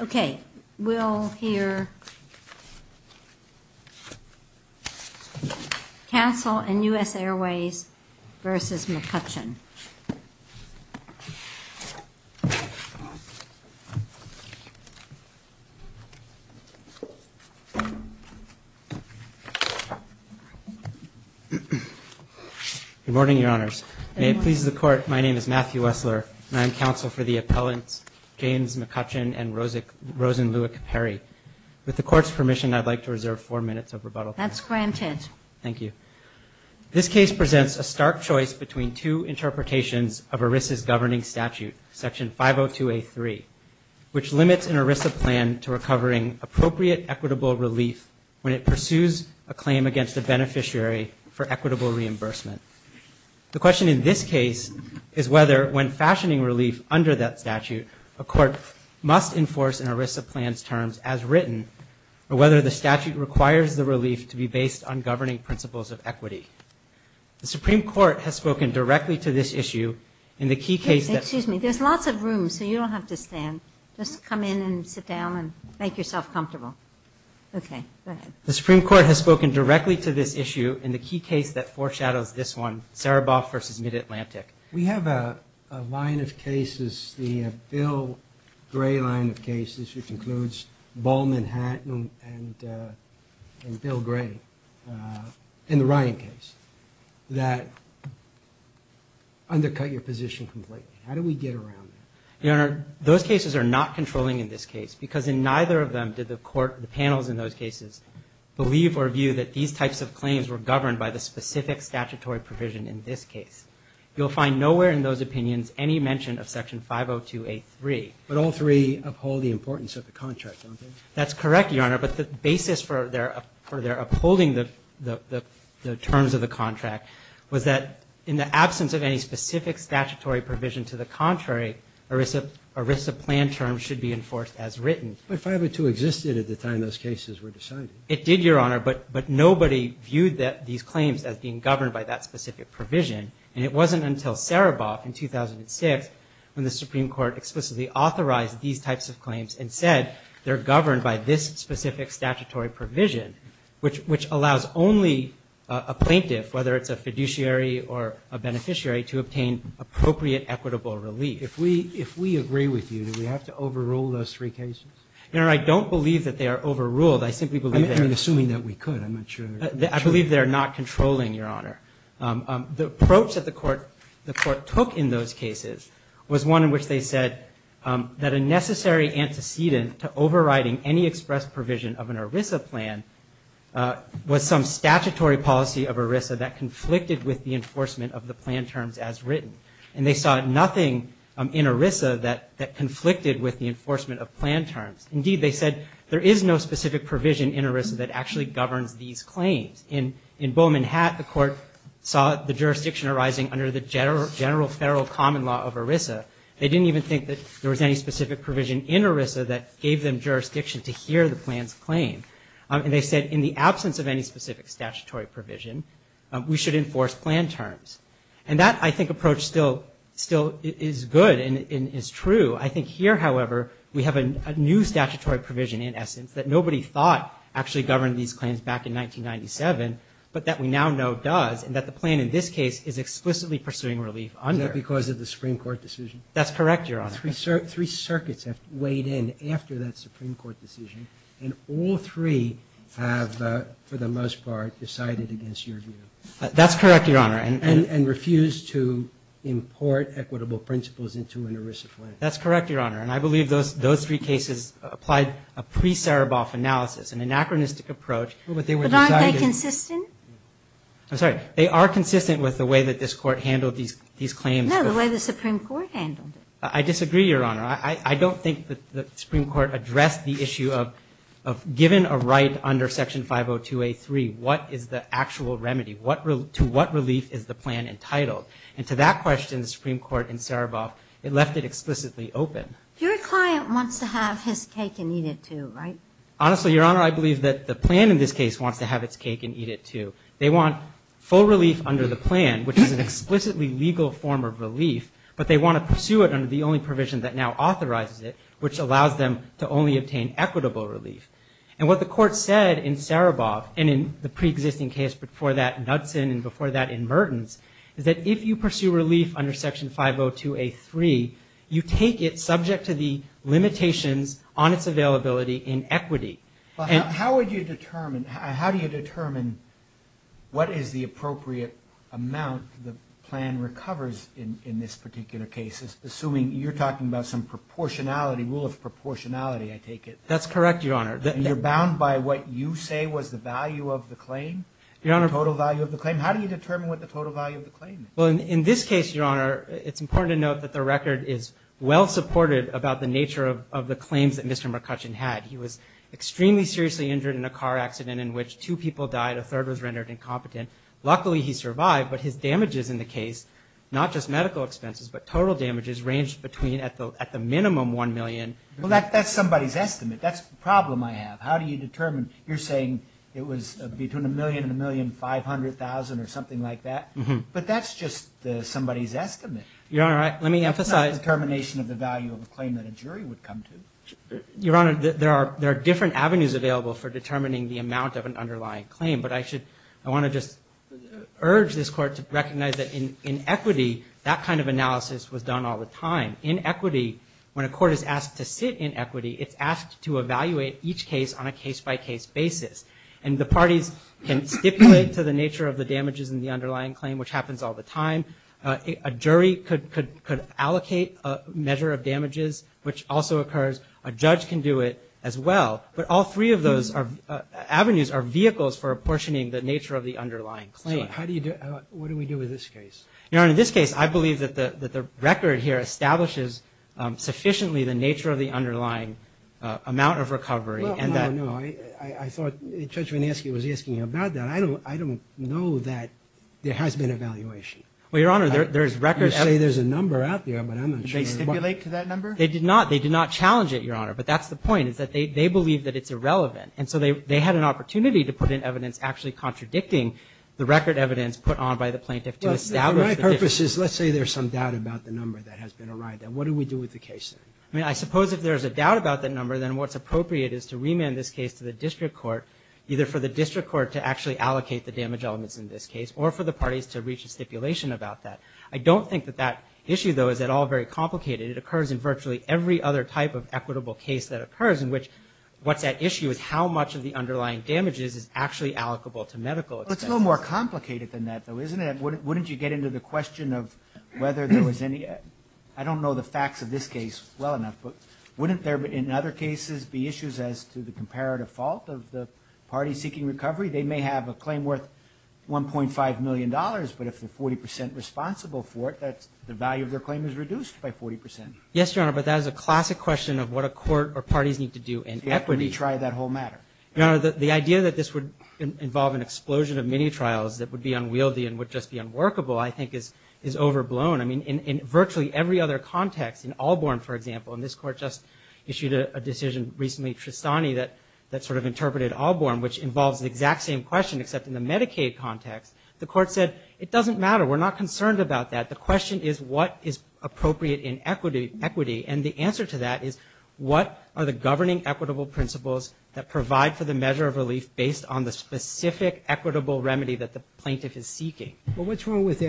Okay, we'll hear Council and U.S. Airways versus McCutchen. Good morning, Your Honors. May it please the Court, my name is Matthew Wessler, and I am counsel for the appellants James McCutchen and Rosenlewick Perry. With the Court's permission, I'd like to reserve four minutes of rebuttal time. That's granted. Thank you. This case presents a stark choice between two interpretations of ERISA's governing statute, Section 502A3, which limits an ERISA plan to recovering appropriate equitable relief when it pursues a claim against a beneficiary for equitable reimbursement. The question in this case is whether, when fashioning relief under that statute, a court must enforce an ERISA plan's terms as written, or whether the statute requires the relief to be based on governing principles of equity. The Supreme Court has spoken directly to this issue in the key case that foreshadows this one, Sereboff versus Mid-Atlantic. We have a line of cases, the Bill Gray line of cases, which includes Ball, Manhattan, and Bill Gray, and the Ryan case, that undercut your position completely. How do we get around that? Your Honor, those cases are not controlling in this case, because in neither of them did the Court, the panels in those cases, believe or view that these types of claims were governed by the specific statutory provision in this case. You'll find nowhere in those opinions any mention of Section 502A3. But all three uphold the importance of the contract, don't they? That's correct, Your Honor, but the basis for their upholding the terms of the contract was that in the absence of any specific statutory provision to the contrary, ERISA plan terms should be enforced as written. But 502 existed at the time those cases were decided. It did, Your Honor, but nobody viewed these claims as being governed by that specific provision. And it wasn't until Sereboff in 2006 when the Supreme Court explicitly authorized these types of claims and said they're governed by this specific statutory provision, which allows only a plaintiff, whether it's a fiduciary or a beneficiary, to obtain appropriate equitable relief. If we agree with you, do we have to overrule those three cases? Your Honor, I don't believe that they are overruled. I simply believe they are. I'm assuming that we could. I'm not sure. I believe they are not controlling, Your Honor. The approach that the Court took in those cases was one in which they said that a necessary antecedent to overriding any express provision of an ERISA plan was some statutory policy of ERISA that conflicted with the enforcement of the plan terms as written. And they saw nothing in ERISA that conflicted with the enforcement of plan terms. Indeed, they said there is no specific provision in ERISA that actually governs these claims. In Bowman Hatt, the Court saw the jurisdiction arising under the general federal common law of ERISA. They didn't even think that there was any specific provision in ERISA that gave them jurisdiction to hear the plan's claim. And they said in the absence of any specific statutory provision, we should enforce plan terms. And that, I think, approach still is good and is true. I think here, however, we have a new statutory provision, in essence, that nobody thought actually governed these claims back in 1997, but that we now know does, and that the plan in this case is explicitly pursuing relief under. Is that because of the Supreme Court decision? That's correct, Your Honor. Three circuits have weighed in after that Supreme Court decision, and all three have, for the most part, decided against your view. That's correct, Your Honor. And refused to import equitable principles into an ERISA plan. That's correct, Your Honor. And I believe those three cases applied a pre-Sereboff analysis, an anachronistic approach. But aren't they consistent? I'm sorry. They are consistent with the way that this Court handled these claims. No, the way the Supreme Court handled it. I disagree, Your Honor. I don't think that the Supreme Court addressed the issue of, given a right under Section 502A3, what is the actual remedy? To what relief is the plan entitled? And to that question, the Supreme Court in Sereboff, it left it explicitly open. Your client wants to have his cake and eat it too, right? Honestly, Your Honor, I believe that the plan in this case wants to have its cake and eat it too. They want full relief under the plan, which is an explicitly legal form of relief, but they want to pursue it under the only provision that now authorizes it, which allows them to only obtain equitable relief. And what the Court said in Sereboff, and in the pre-existing case before that, Knudson, and before that in Mertens, is that if you pursue relief under Section 502A3, you take it subject to the limitations on its availability in equity. How would you determine, how do you determine what is the appropriate amount the plan recovers in this particular case, assuming you're talking about some proportionality, rule of proportionality, I take it? That's correct, Your Honor. You're bound by what you say was the value of the claim, the total value of the claim? How do you determine what the total value of the claim is? Well, in this case, Your Honor, it's important to note that the record is well-supported about the nature of the claims that Mr. McCutcheon had. He was extremely seriously injured in a car accident in which two people died, a third was rendered incompetent. Luckily, he survived, but his damages in the case, not just medical expenses, but total damages ranged between, at the minimum, $1 million. Well, that's somebody's estimate. That's the problem I have. How do you determine? You're saying it was between $1 million and $1,500,000 or something like that? But that's just somebody's estimate. Your Honor, let me emphasize- That's not a determination of the value of a claim that a jury would come to. Your Honor, there are different avenues available for determining the amount of an underlying claim, but I want to just urge this Court to recognize that in equity, that kind of analysis was done all the time. In equity, when a court is asked to sit in equity, it's asked to evaluate each case on a case-by-case basis, and the parties can stipulate to the nature of the damages in the underlying claim, which happens all the time. A jury could allocate a measure of damages, which also occurs. A judge can do it as well, but all three of those avenues are vehicles for apportioning the nature of the underlying claim. So, what do we do with this case? Your Honor, in this case, I believe that the record here establishes sufficiently the nature of the underlying amount of recovery and that- I thought Judge Vinesky was asking about that. I don't know that there has been evaluation. Well, Your Honor, there is record- You say there's a number out there, but I'm not sure- Did they stipulate to that number? They did not. They did not challenge it, Your Honor, but that's the point, is that they believe that it's irrelevant. And so, they had an opportunity to put in evidence actually contradicting the record evidence put on by the plaintiff to establish- My purpose is, let's say there's some doubt about the number that has been arrived at. What do we do with the case? I mean, I suppose if there's a doubt about that number, then what's appropriate is to bring it to the district court, either for the district court to actually allocate the damage elements in this case or for the parties to reach a stipulation about that. I don't think that that issue, though, is at all very complicated. It occurs in virtually every other type of equitable case that occurs in which what's at issue is how much of the underlying damages is actually allocable to medical expenses. Well, it's a little more complicated than that, though, isn't it? Wouldn't you get into the question of whether there was any- I don't know the facts of this case well enough, but wouldn't there, in other cases, be issues as to the comparative fault of the party seeking recovery? They may have a claim worth $1.5 million, but if they're 40 percent responsible for it, that's- the value of their claim is reduced by 40 percent. Yes, Your Honor, but that is a classic question of what a court or parties need to do in equity. You have to retry that whole matter. Your Honor, the idea that this would involve an explosion of mini-trials that would be unwieldy and would just be unworkable, I think, is overblown. I mean, in virtually every other context, in Allborn, for example, and this court just sort of interpreted Allborn, which involves the exact same question except in the Medicaid context, the court said, it doesn't matter, we're not concerned about that, the question is what is appropriate in equity, and the answer to that is what are the governing equitable principles that provide for the measure of relief based on the specific equitable remedy that the plaintiff is seeking? Well, what's wrong with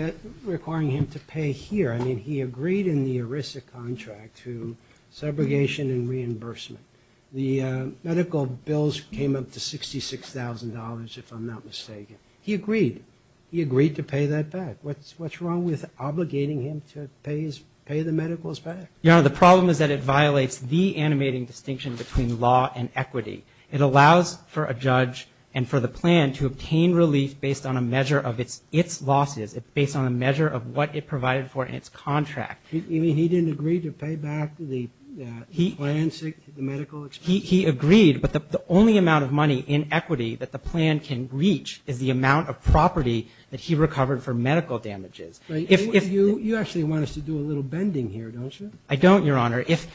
requiring him to pay here? I mean, he agreed in the ERISA contract to segregation and reimbursement. The medical bills came up to $66,000, if I'm not mistaken. He agreed. He agreed to pay that back. What's wrong with obligating him to pay the medicals back? Your Honor, the problem is that it violates the animating distinction between law and equity. It allows for a judge and for the plan to obtain relief based on a measure of its losses, based on a measure of what it provided for in its contract. You mean he didn't agree to pay back the plans, the medical expenses? He agreed, but the only amount of money in equity that the plan can reach is the amount of property that he recovered for medical damages. You actually want us to do a little bending here, don't you? I don't, Your Honor. If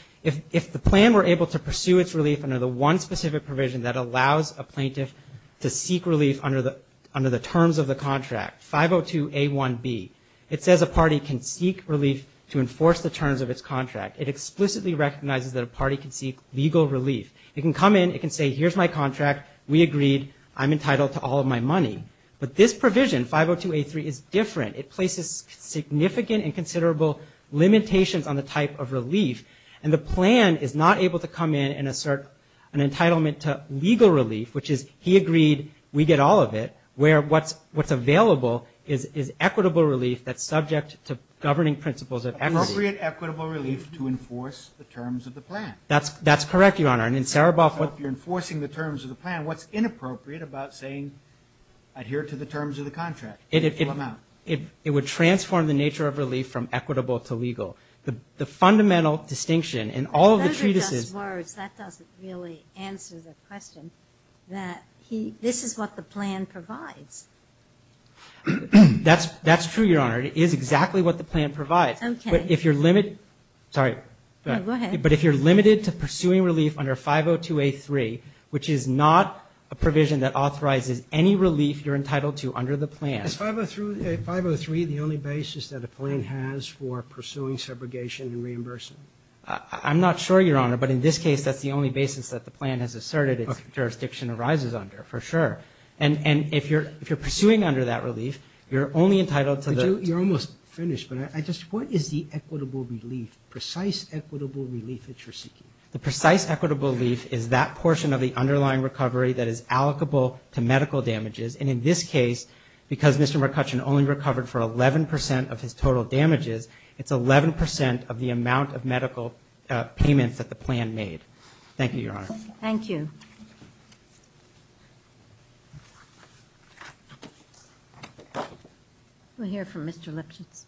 the plan were able to pursue its relief under the one specific provision that allows a plaintiff to seek relief under the terms of the contract, 502A1B, it says a party can enforce the terms of its contract. It explicitly recognizes that a party can seek legal relief. It can come in. It can say, here's my contract. We agreed. I'm entitled to all of my money, but this provision, 502A3, is different. It places significant and considerable limitations on the type of relief, and the plan is not able to come in and assert an entitlement to legal relief, which is he agreed, we get all of it, where what's available is equitable relief that's subject to governing principles of equity. Appropriate equitable relief to enforce the terms of the plan. That's correct, Your Honor. And in Saraboff, what... So if you're enforcing the terms of the plan, what's inappropriate about saying adhere to the terms of the contract, the full amount? It would transform the nature of relief from equitable to legal. The fundamental distinction in all of the treatises... Those are just words. That doesn't really answer the question, that this is what the plan provides. That's true, Your Honor. It is exactly what the plan provides. Okay. But if you're limit... Sorry. Go ahead. But if you're limited to pursuing relief under 502A3, which is not a provision that authorizes any relief you're entitled to under the plan... Is 503 the only basis that a plan has for pursuing segregation and reimbursement? I'm not sure, Your Honor, but in this case, that's the only basis that the plan has asserted its jurisdiction arises under, for sure. And if you're pursuing under that relief, you're only entitled to the... You're almost finished, but I just... What is the equitable relief, precise equitable relief that you're seeking? The precise equitable relief is that portion of the underlying recovery that is allocable to medical damages. And in this case, because Mr. McCutcheon only recovered for 11% of his total damages, it's 11% of the amount of medical payments that the plan made. Thank you, Your Honor. Thank you. We'll hear from Mr. Lipschitz.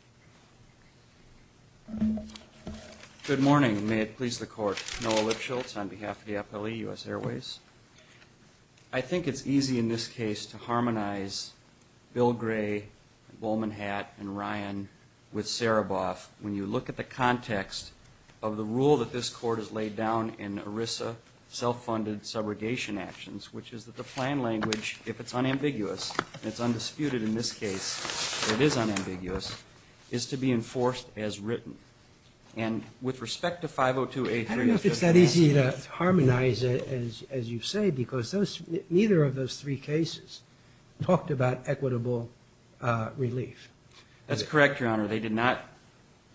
Good morning. May it please the Court. Noah Lipschitz on behalf of the Appellee, U.S. Airways. I think it's easy in this case to harmonize Bill Gray, Bowman Hatt, and Ryan with Saraboff when you look at the context of the rule that this Court has laid down in ERISA, Self-Funded Subrogation Actions, which is that the plan language, if it's unambiguous, and it's undisputed in this case, it is unambiguous, is to be enforced as written. And with respect to 502A3... I don't know if it's that easy to harmonize it, as you say, because neither of those three cases talked about equitable relief. That's correct, Your Honor. They did not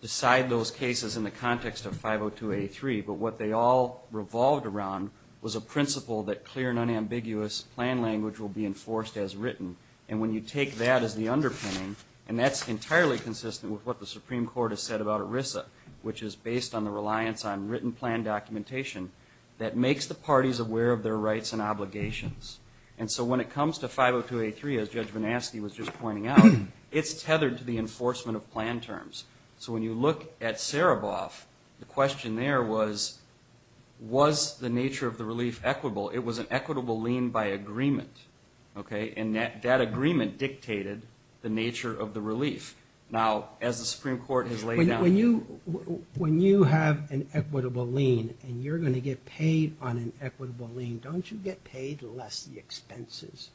decide those cases in the context of 502A3, but what they all revolved around was a principle that clear and unambiguous plan language will be enforced as written. And when you take that as the underpinning, and that's entirely consistent with what the Supreme Court has said about ERISA, which is based on the reliance on written plan documentation, that makes the parties aware of their rights and obligations. And so when it comes to 502A3, as Judge Van Aske was just pointing out, it's tethered to the enforcement of plan terms. So when you look at Sereboff, the question there was, was the nature of the relief equitable? It was an equitable lien by agreement, okay? And that agreement dictated the nature of the relief. Now, as the Supreme Court has laid down... When you have an equitable lien, and you're going to get paid on an equitable lien, don't you get paid less the expenses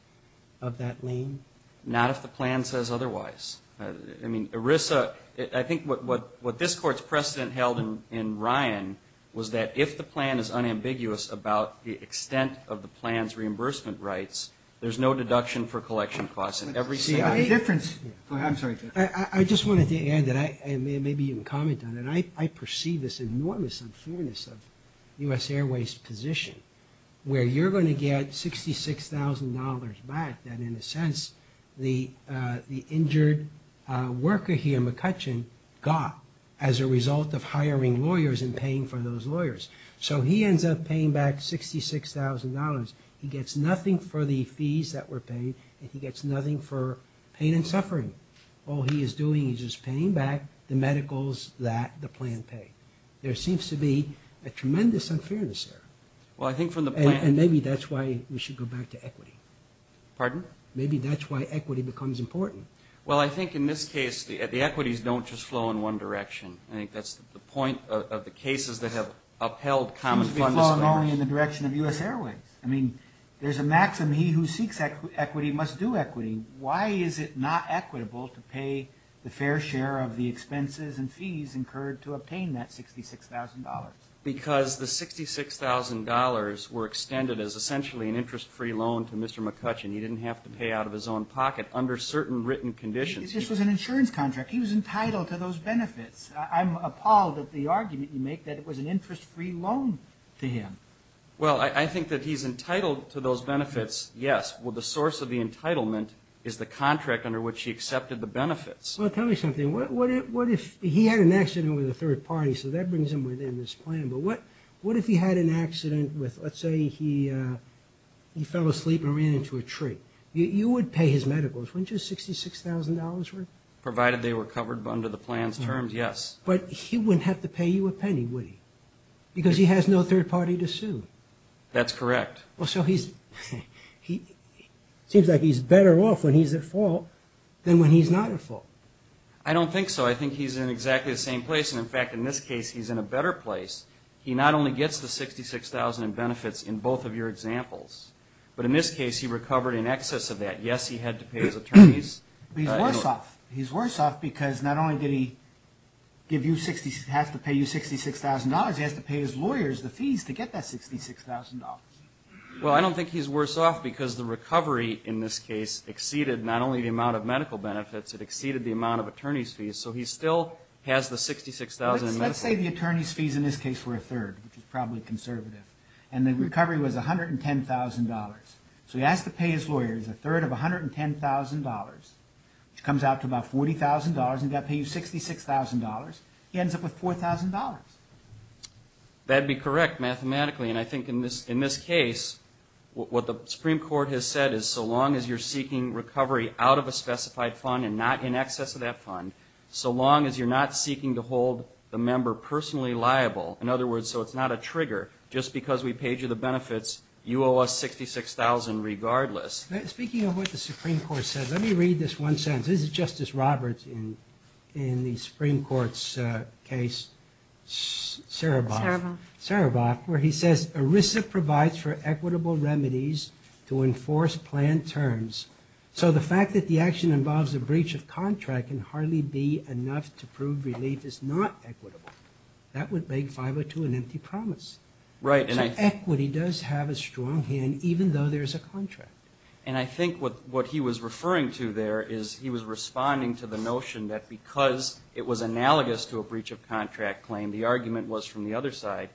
of that lien? Not if the plan says otherwise. I mean, ERISA, I think what this Court's precedent held in Ryan was that if the plan is unambiguous about the extent of the plan's reimbursement rights, there's no deduction for collection costs in every... See, the difference... Oh, I'm sorry. I just wanted to add that, and maybe you can comment on it, I perceive this enormous unfairness of U.S. Airways' position, where you're going to get $66,000 back that, in a sense, the injured worker here, McCutcheon, got as a result of hiring lawyers and paying for those lawyers. So he ends up paying back $66,000. He gets nothing for the fees that were paid, and he gets nothing for pain and suffering. All he is doing is just paying back the medicals that the plan paid. There seems to be a tremendous unfairness there. Well, I think from the plan... And maybe that's why we should go back to equity. Pardon? Maybe that's why equity becomes important. Well, I think in this case, the equities don't just flow in one direction. I think that's the point of the cases that have upheld common fund... They've been flowing only in the direction of U.S. Airways. I mean, there's a maxim, he who seeks equity must do equity. Why is it not equitable to pay the fair share of the expenses and fees incurred to obtain that $66,000? Because the $66,000 were extended as essentially an interest-free loan to Mr. McCutcheon. He didn't have to pay out of his own pocket under certain written conditions. This was an insurance contract. He was entitled to those benefits. I'm appalled at the argument you make that it was an interest-free loan to him. Well, I think that he's entitled to those benefits, yes, but the source of the entitlement is the contract under which he accepted the benefits. Well, tell me something. What if... He had an accident with a third party, so that brings him within this plan, but what if he had an accident with, let's say, he fell asleep and ran into a tree? You would pay his medicals, wouldn't you, $66,000 for it? Provided they were covered under the plan's terms, yes. But he wouldn't have to pay you a penny, would he? Because he has no third party to sue. That's correct. Well, so he's... It seems like he's better off when he's at fault than when he's not at fault. I don't think so. I think he's in exactly the same place, and in fact, in this case, he's in a better place. He not only gets the $66,000 in benefits in both of your examples, but in this case, he recovered in excess of that. Yes, he had to pay his attorneys. But he's worse off. He's worse off because not only did he have to pay you $66,000, he has to pay his lawyers the fees to get that $66,000. Well, I don't think he's worse off because the recovery in this case exceeded not only the amount of medical benefits, it exceeded the amount of attorney's fees, so he still has the $66,000 in medical benefits. Let's say the attorney's fees in this case were a third, which is probably conservative, and the recovery was $110,000. So he has to pay his lawyers a third of $110,000, which comes out to about $40,000, and he's got to pay you $66,000. He ends up with $4,000. That'd be correct mathematically, and I think in this case, what the Supreme Court has said is so long as you're seeking recovery out of a specified fund and not in excess of that number personally liable, in other words, so it's not a trigger, just because we paid you the benefits, you owe us $66,000 regardless. Speaking of what the Supreme Court said, let me read this one sentence. This is Justice Roberts in the Supreme Court's case, Saraboff, where he says, ERISA provides for equitable remedies to enforce planned terms. So the fact that the action involves a breach of contract can hardly be enough to prove relief is not equitable. That would make 502 an empty promise. So equity does have a strong hand, even though there's a contract. And I think what he was referring to there is he was responding to the notion that because it was analogous to a breach of contract claim, the argument was from the other side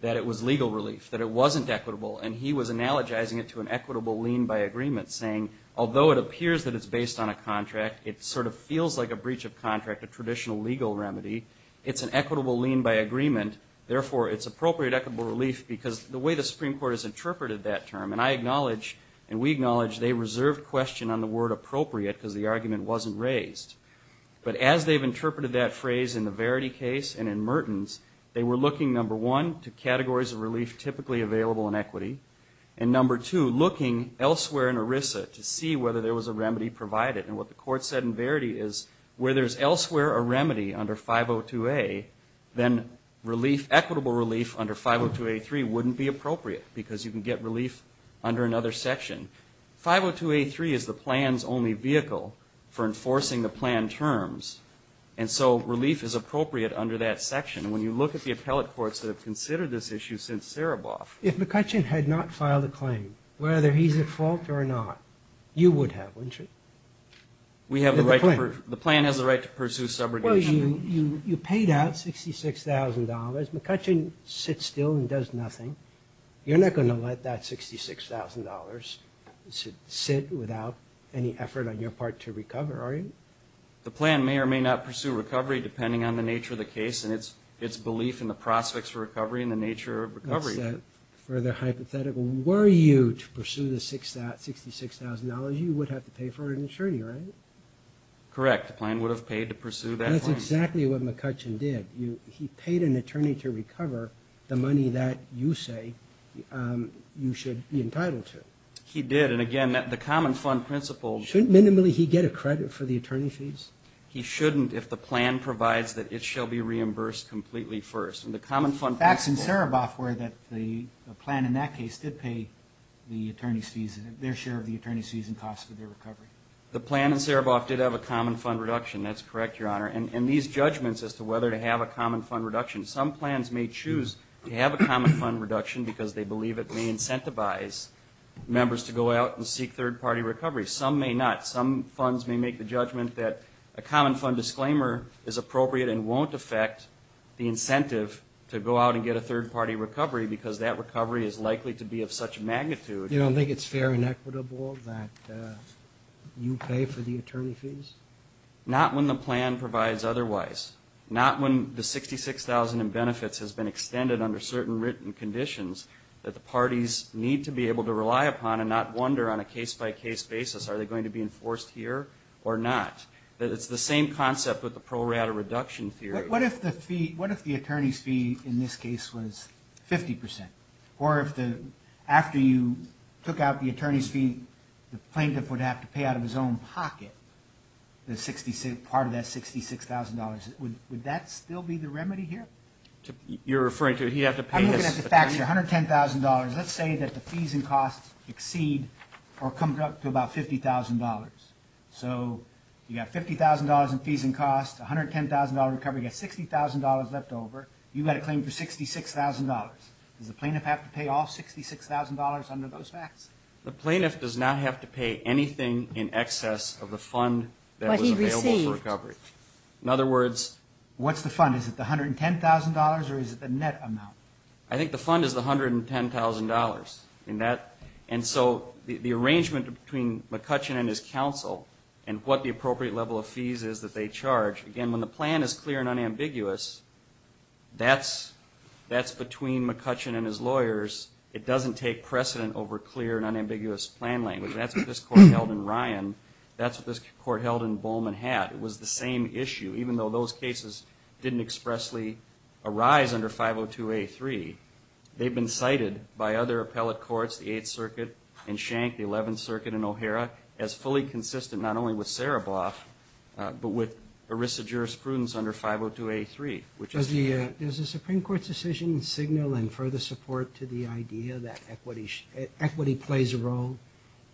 that it was legal relief, that it wasn't equitable, and he was analogizing it to an equitable lien by agreement, saying although it appears that it's based on a contract, it sort of is a remedy, it's an equitable lien by agreement, therefore it's appropriate, equitable relief, because the way the Supreme Court has interpreted that term, and I acknowledge and we acknowledge they reserved question on the word appropriate because the argument wasn't raised. But as they've interpreted that phrase in the Verity case and in Merton's, they were looking, number one, to categories of relief typically available in equity, and number two, looking elsewhere in ERISA to see whether there was a remedy provided. And what the court said in Verity is where there's elsewhere a remedy under 502A, then relief, equitable relief under 502A3 wouldn't be appropriate because you can get relief under another section. 502A3 is the plan's only vehicle for enforcing the plan terms, and so relief is appropriate under that section. And when you look at the appellate courts that have considered this issue since Sereboff. If McCutcheon had not filed a claim, whether he's at fault or not, you would have, wouldn't you? We have the right, the plan has the right to pursue subrogation. You paid out $66,000, McCutcheon sits still and does nothing. You're not going to let that $66,000 sit without any effort on your part to recover, are you? The plan may or may not pursue recovery depending on the nature of the case and its belief in the prospects for recovery and the nature of recovery. That's a further hypothetical. Were you to pursue the $66,000, you would have to pay for an attorney, right? Correct. The plan would have paid to pursue that claim. That's exactly what McCutcheon did. He paid an attorney to recover the money that you say you should be entitled to. He did, and again, the common fund principle. Shouldn't minimally he get a credit for the attorney fees? He shouldn't if the plan provides that it shall be reimbursed completely first. Facts in Sereboff were that the plan in that case did pay the attorney's fees, their share of the attorney's fees and costs for their recovery. The plan in Sereboff did have a common fund reduction, that's correct, your honor, and these judgments as to whether to have a common fund reduction, some plans may choose to have a common fund reduction because they believe it may incentivize members to go out and seek third party recovery. Some may not. Some funds may make the judgment that a common fund disclaimer is appropriate and won't affect the incentive to go out and get a third party recovery because that recovery is likely to be of such magnitude. You don't think it's fair and equitable that you pay for the attorney fees? Not when the plan provides otherwise. Not when the $66,000 in benefits has been extended under certain written conditions that the parties need to be able to rely upon and not wonder on a case by case basis are they going to be enforced here or not. It's the same concept with the pro rata reduction theory. What if the attorney's fee in this case was 50% or if after you took out the attorney's fee, the plaintiff would have to pay out of his own pocket part of that $66,000, would that still be the remedy here? You're referring to he'd have to pay this? I'm looking at the facts here, $110,000. Let's say that the fees and costs exceed or come up to about $50,000. So you got $50,000 in fees and costs, $110,000 recovery, you got $60,000 left over, you've got a claim for $66,000. Does the plaintiff have to pay all $66,000 under those facts? The plaintiff does not have to pay anything in excess of the fund that was available for recovery. What he received. In other words. What's the fund? Is it the $110,000 or is it the net amount? I think the fund is the $110,000. And so the arrangement between McCutcheon and his counsel and what the appropriate level of fees is that they charge, again, when the plan is clear and unambiguous, that's between McCutcheon and his lawyers. It doesn't take precedent over clear and unambiguous plan language. That's what this court held in Ryan. That's what this court held in Bowman Hatt. It was the same issue. Even though those cases didn't expressly arise under 502A3, they've been cited by other appellate courts, the Eighth Circuit in Schenck, the Eleventh Circuit in O'Hara, as fully consistent not only with Sereboff, but with ERISA jurisprudence under 502A3. Does the Supreme Court's decision signal in further support to the idea that equity plays a role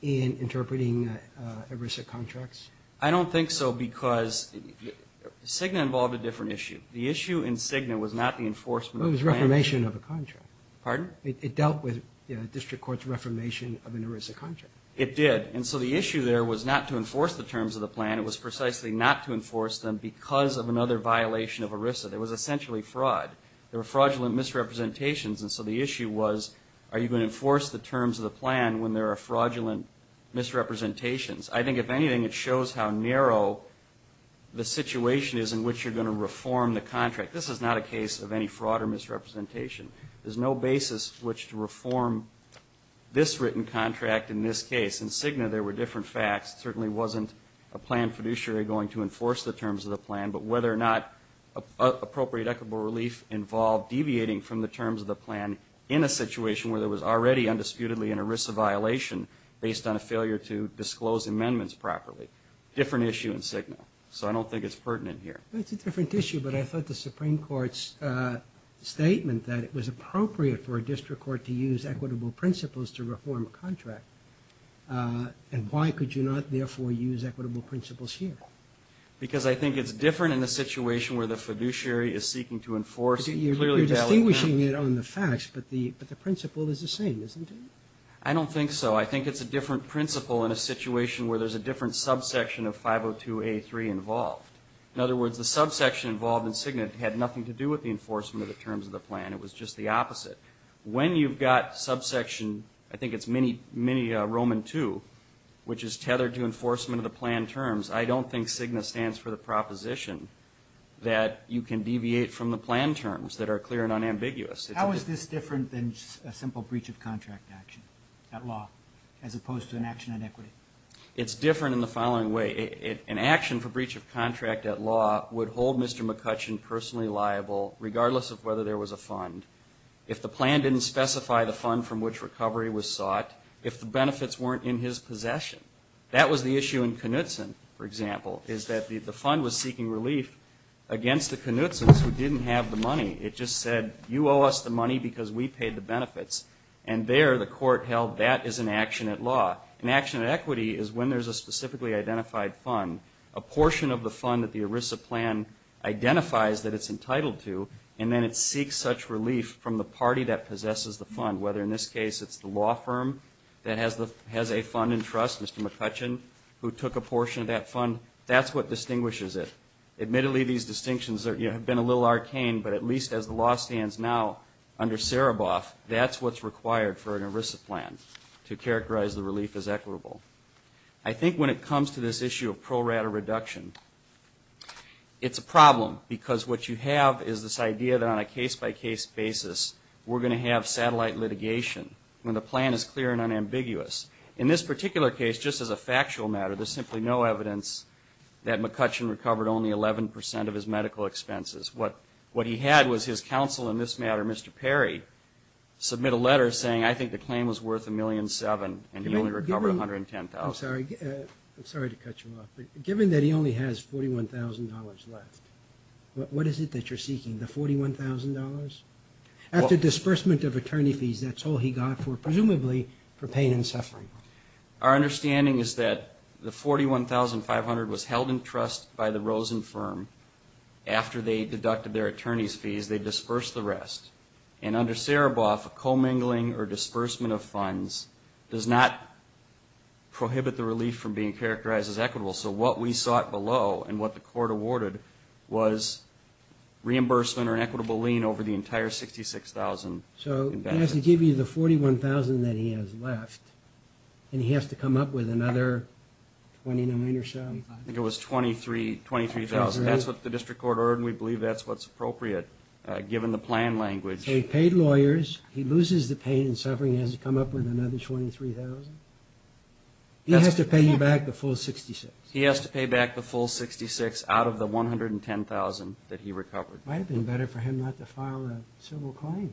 in interpreting ERISA contracts? I don't think so because Cigna involved a different issue. The issue in Cigna was not the enforcement of the plan. It was reformation of a contract. Pardon? It dealt with the district court's reformation of an ERISA contract. It did. And so the issue there was not to enforce the terms of the plan. It was precisely not to enforce them because of another violation of ERISA. There was essentially fraud. There were fraudulent misrepresentations, and so the issue was, are you going to enforce the terms of the plan when there are fraudulent misrepresentations? I think if anything, it shows how narrow the situation is in which you're going to reform the contract. This is not a case of any fraud or misrepresentation. There's no basis which to reform this written contract in this case. In Cigna, there were different facts. It certainly wasn't a plan fiduciary going to enforce the terms of the plan, but whether or not appropriate equitable relief involved deviating from the terms of the plan in a situation where there was already undisputedly an ERISA violation based on a failure to disclose amendments properly. Different issue in Cigna. So I don't think it's pertinent here. It's a different issue, but I thought the Supreme Court's statement that it was appropriate for a district court to use equitable principles to reform a contract, and why could you not therefore use equitable principles here? Because I think it's different in a situation where the fiduciary is seeking to enforce clearly valid terms. You're distinguishing it on the facts, but the principle is the same, isn't it? I don't think so. I think it's a different principle in a situation where there's a different subsection of 502A3 involved. In other words, the subsection involved in Cigna had nothing to do with the enforcement of the terms of the plan. It was just the opposite. When you've got subsection, I think it's mini Roman II, which is tethered to enforcement of the plan terms, I don't think Cigna stands for the proposition that you can deviate from the plan terms that are clear and unambiguous. How is this different than a simple breach of contract action, that law, as opposed to an action on equity? It's different in the following way. An action for breach of contract at law would hold Mr. McCutcheon personally liable, regardless of whether there was a fund, if the plan didn't specify the fund from which recovery was sought, if the benefits weren't in his possession. That was the issue in Knutson, for example, is that the fund was seeking relief against the Knutsons who didn't have the money. It just said, you owe us the money because we paid the benefits. And there, the court held that is an action at law. An action at equity is when there's a specifically identified fund, a portion of the fund that the ERISA plan identifies that it's entitled to, and then it seeks such relief from the party that possesses the fund, whether in this case it's the law firm that has a fund in trust, Mr. McCutcheon, who took a portion of that fund, that's what distinguishes it. Admittedly, these distinctions have been a little arcane, but at least as the law stands now under Sereboff, that's what's required for an ERISA plan to characterize the relief as equitable. I think when it comes to this issue of pro rata reduction, it's a problem because what you have is this idea that on a case-by-case basis, we're going to have satellite litigation when the plan is clear and unambiguous. In this particular case, just as a factual matter, there's simply no evidence that McCutcheon recovered only 11% of his medical expenses. What he had was his counsel in this matter, Mr. Perry, submit a letter saying, I think the claim was worth $1.7 million and he only recovered $110,000. Oh, sorry. I'm sorry to cut you off, but given that he only has $41,000 left, what is it that you're seeking? The $41,000? After disbursement of attorney fees, that's all he got for, presumably, for pain and suffering. Our understanding is that the $41,500 was held in trust by the Rosen firm. After they deducted their attorney's fees, they disbursed the rest. Under Sereboff, commingling or disbursement of funds does not prohibit the relief from being characterized as equitable. What we sought below and what the court awarded was reimbursement or an equitable lien over the entire $66,000. So he has to give you the $41,000 that he has left and he has to come up with another $20 million or so? I think it was $23,000. That's what the district court ordered and we believe that's what's appropriate, given the plan language. So he paid lawyers, he loses the pain and suffering, he has to come up with another $23,000? He has to pay you back the full $66,000? He has to pay back the full $66,000 out of the $110,000 that he recovered. It might have been better for him not to file a civil claim.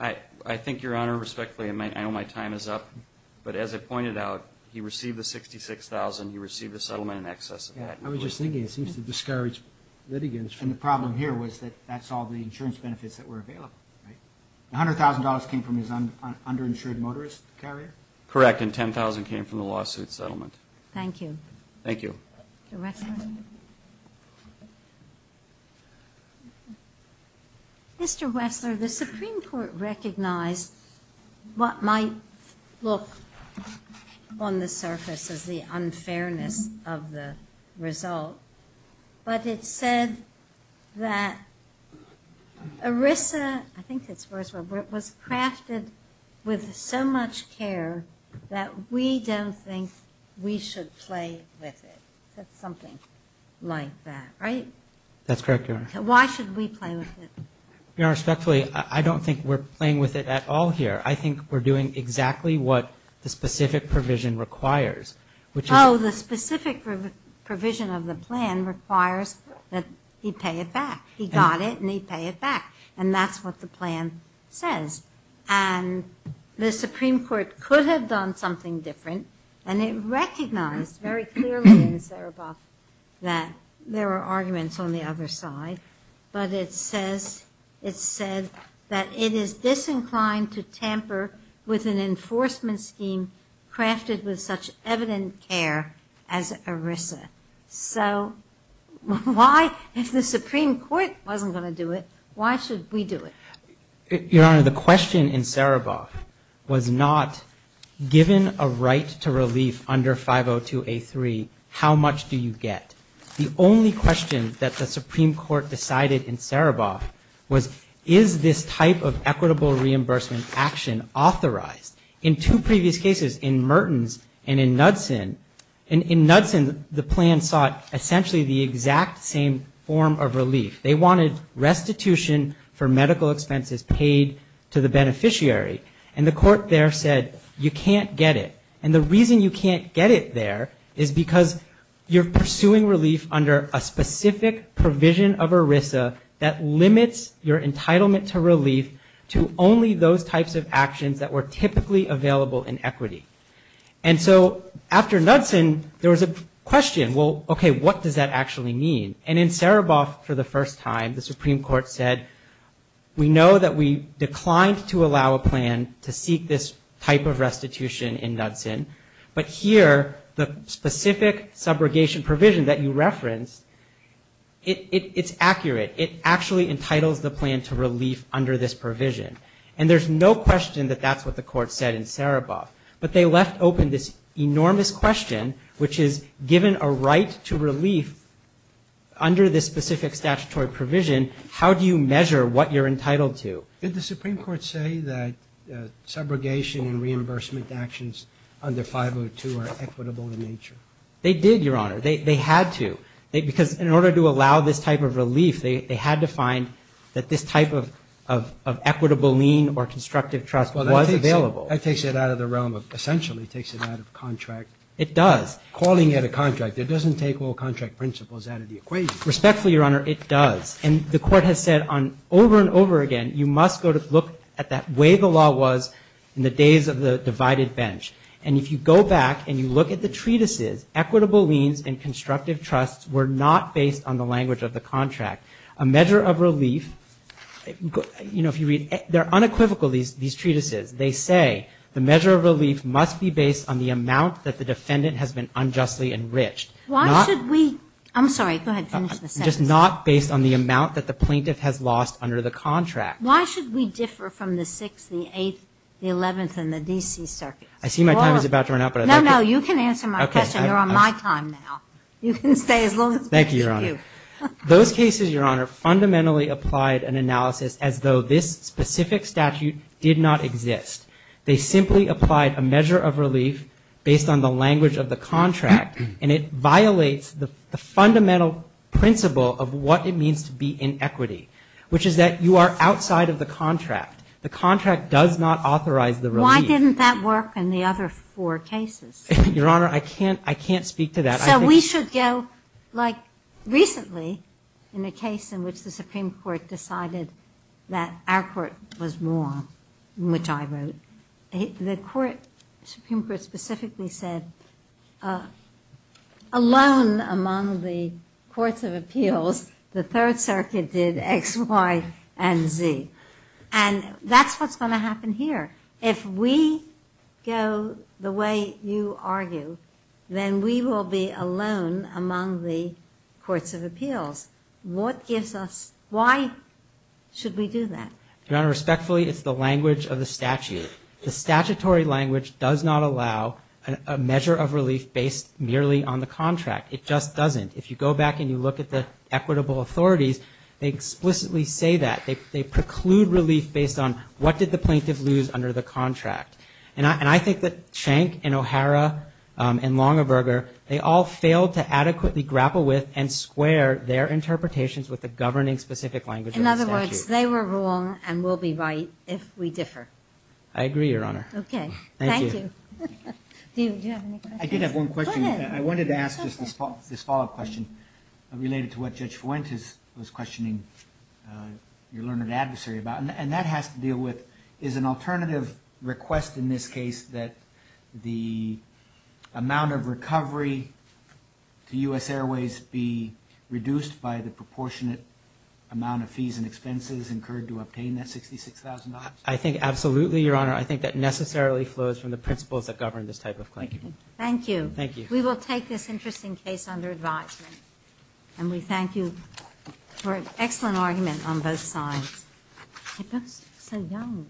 I think, Your Honor, respectfully, I know my time is up, but as I pointed out, he received the $66,000, he received the settlement in excess of that. I was just thinking it seems to discourage litigants. And the problem here was that that's all the insurance benefits that were available, right? $100,000 came from his underinsured motorist carrier? Correct, and $10,000 came from the lawsuit settlement. Thank you. Thank you. Mr. Wessler? Mr. Wessler, the Supreme Court recognized what might look on the surface as the unfairness of the result, but it said that ERISA, I think that's the first word, was crafted with so much care that we don't think we should play with it. That's something like that, right? That's correct, Your Honor. Why should we play with it? Your Honor, respectfully, I don't think we're playing with it at all here. I think we're doing exactly what the specific provision requires. Oh, the specific provision of the plan requires that he pay it back. He got it, and he pay it back. And that's what the plan says. And the Supreme Court could have done something different, and it recognized very clearly in Sereboff that there were arguments on the other side, but it says, it said that it is disinclined to tamper with an enforcement scheme crafted with such evident care as ERISA. So why, if the Supreme Court wasn't going to do it, why should we do it? Your Honor, the question in Sereboff was not, given a right to relief under 502A3, how much do you get? The only question that the Supreme Court decided in Sereboff was, is this type of equitable reimbursement action authorized? In two previous cases, in Mertens and in Knudsen, in Knudsen, the plan sought essentially the exact same form of relief. They wanted restitution for medical expenses paid to the beneficiary. And the court there said, you can't get it. And the reason you can't get it there is because you're pursuing relief under a specific provision of ERISA that limits your entitlement to relief to only those types of actions that were typically available in equity. And so after Knudsen, there was a question, well, okay, what does that actually mean? And in Sereboff, for the first time, the Supreme Court said, we know that we declined to allow a plan to seek this type of restitution in Knudsen. But here, the specific subrogation provision that you referenced, it's accurate. It actually entitles the plan to relief under this provision. And there's no question that that's what the court said in Sereboff. But they left open this enormous question, which is given a right to relief under this specific statutory provision, how do you measure what you're entitled to? Did the Supreme Court say that subrogation and reimbursement actions under 502 are equitable in nature? They did, Your Honor. They had to. Because in order to allow this type of relief, they had to find that this type of equitable lien or constructive trust was available. That takes it out of the realm of essentially takes it out of contract. It does. Calling it a contract. It doesn't take all contract principles out of the equation. Respectfully, Your Honor, it does. And the court has said over and over again, you must go to look at that way the law was in the days of the divided bench. And if you go back and you look at the treatises, equitable liens and constructive trusts were not based on the language of the contract. A measure of relief, you know, if you read, they're unequivocal, these treatises. They say the measure of relief must be based on the amount that the defendant has been unjustly enriched. Why should we? I'm sorry. Go ahead and finish the sentence. Just not based on the amount that the plaintiff has lost under the contract. Why should we differ from the 6th, the 8th, the 11th and the D.C. circuits? I see my time is about to run out, but I'd like to. No, no. You can answer my question. You're on my time now. You can stay as long as you want. Thank you, Your Honor. Those cases, Your Honor, fundamentally applied an analysis as though this specific statute did not exist. They simply applied a measure of relief based on the language of the contract, and it violates the fundamental principle of what it means to be in equity, which is that you are outside of the contract. The contract does not authorize the relief. Why didn't that work in the other four cases? Your Honor, I can't speak to that. So we should go, like, recently in a case in which the Supreme Court decided that our court was wrong, which I wrote. The Supreme Court specifically said, alone among the courts of appeals, the Third Circuit did X, Y, and Z. And that's what's going to happen here. If we go the way you argue, then we will be alone among the courts of appeals. What gives us why should we do that? Your Honor, respectfully, it's the language of the statute. The statutory language does not allow a measure of relief based merely on the contract. It just doesn't. If you go back and you look at the equitable authorities, they explicitly say that. They preclude relief based on what did the plaintiff lose under the contract. And I think that Schenck and O'Hara and Longaberger, they all failed to adequately grapple with and square their interpretations with the governing specific language of the statute. In other words, they were wrong and will be right if we differ. I agree, Your Honor. Okay. Thank you. Thank you. Do you have any questions? I did have one question. Go ahead. I wanted to ask just this follow-up question related to what Judge Fuentes was questioning your learned adversary about. And that has to deal with is an alternative request in this case that the amount of recovery to U.S. Airways be reduced by the proportionate amount of fees and expenses incurred to obtain that $66,000? I think absolutely, Your Honor. I think that necessarily flows from the principles that govern this type of claim. Thank you. Thank you. We will take this interesting case under advisement. And we thank you for an excellent argument on both sides. It looks so young.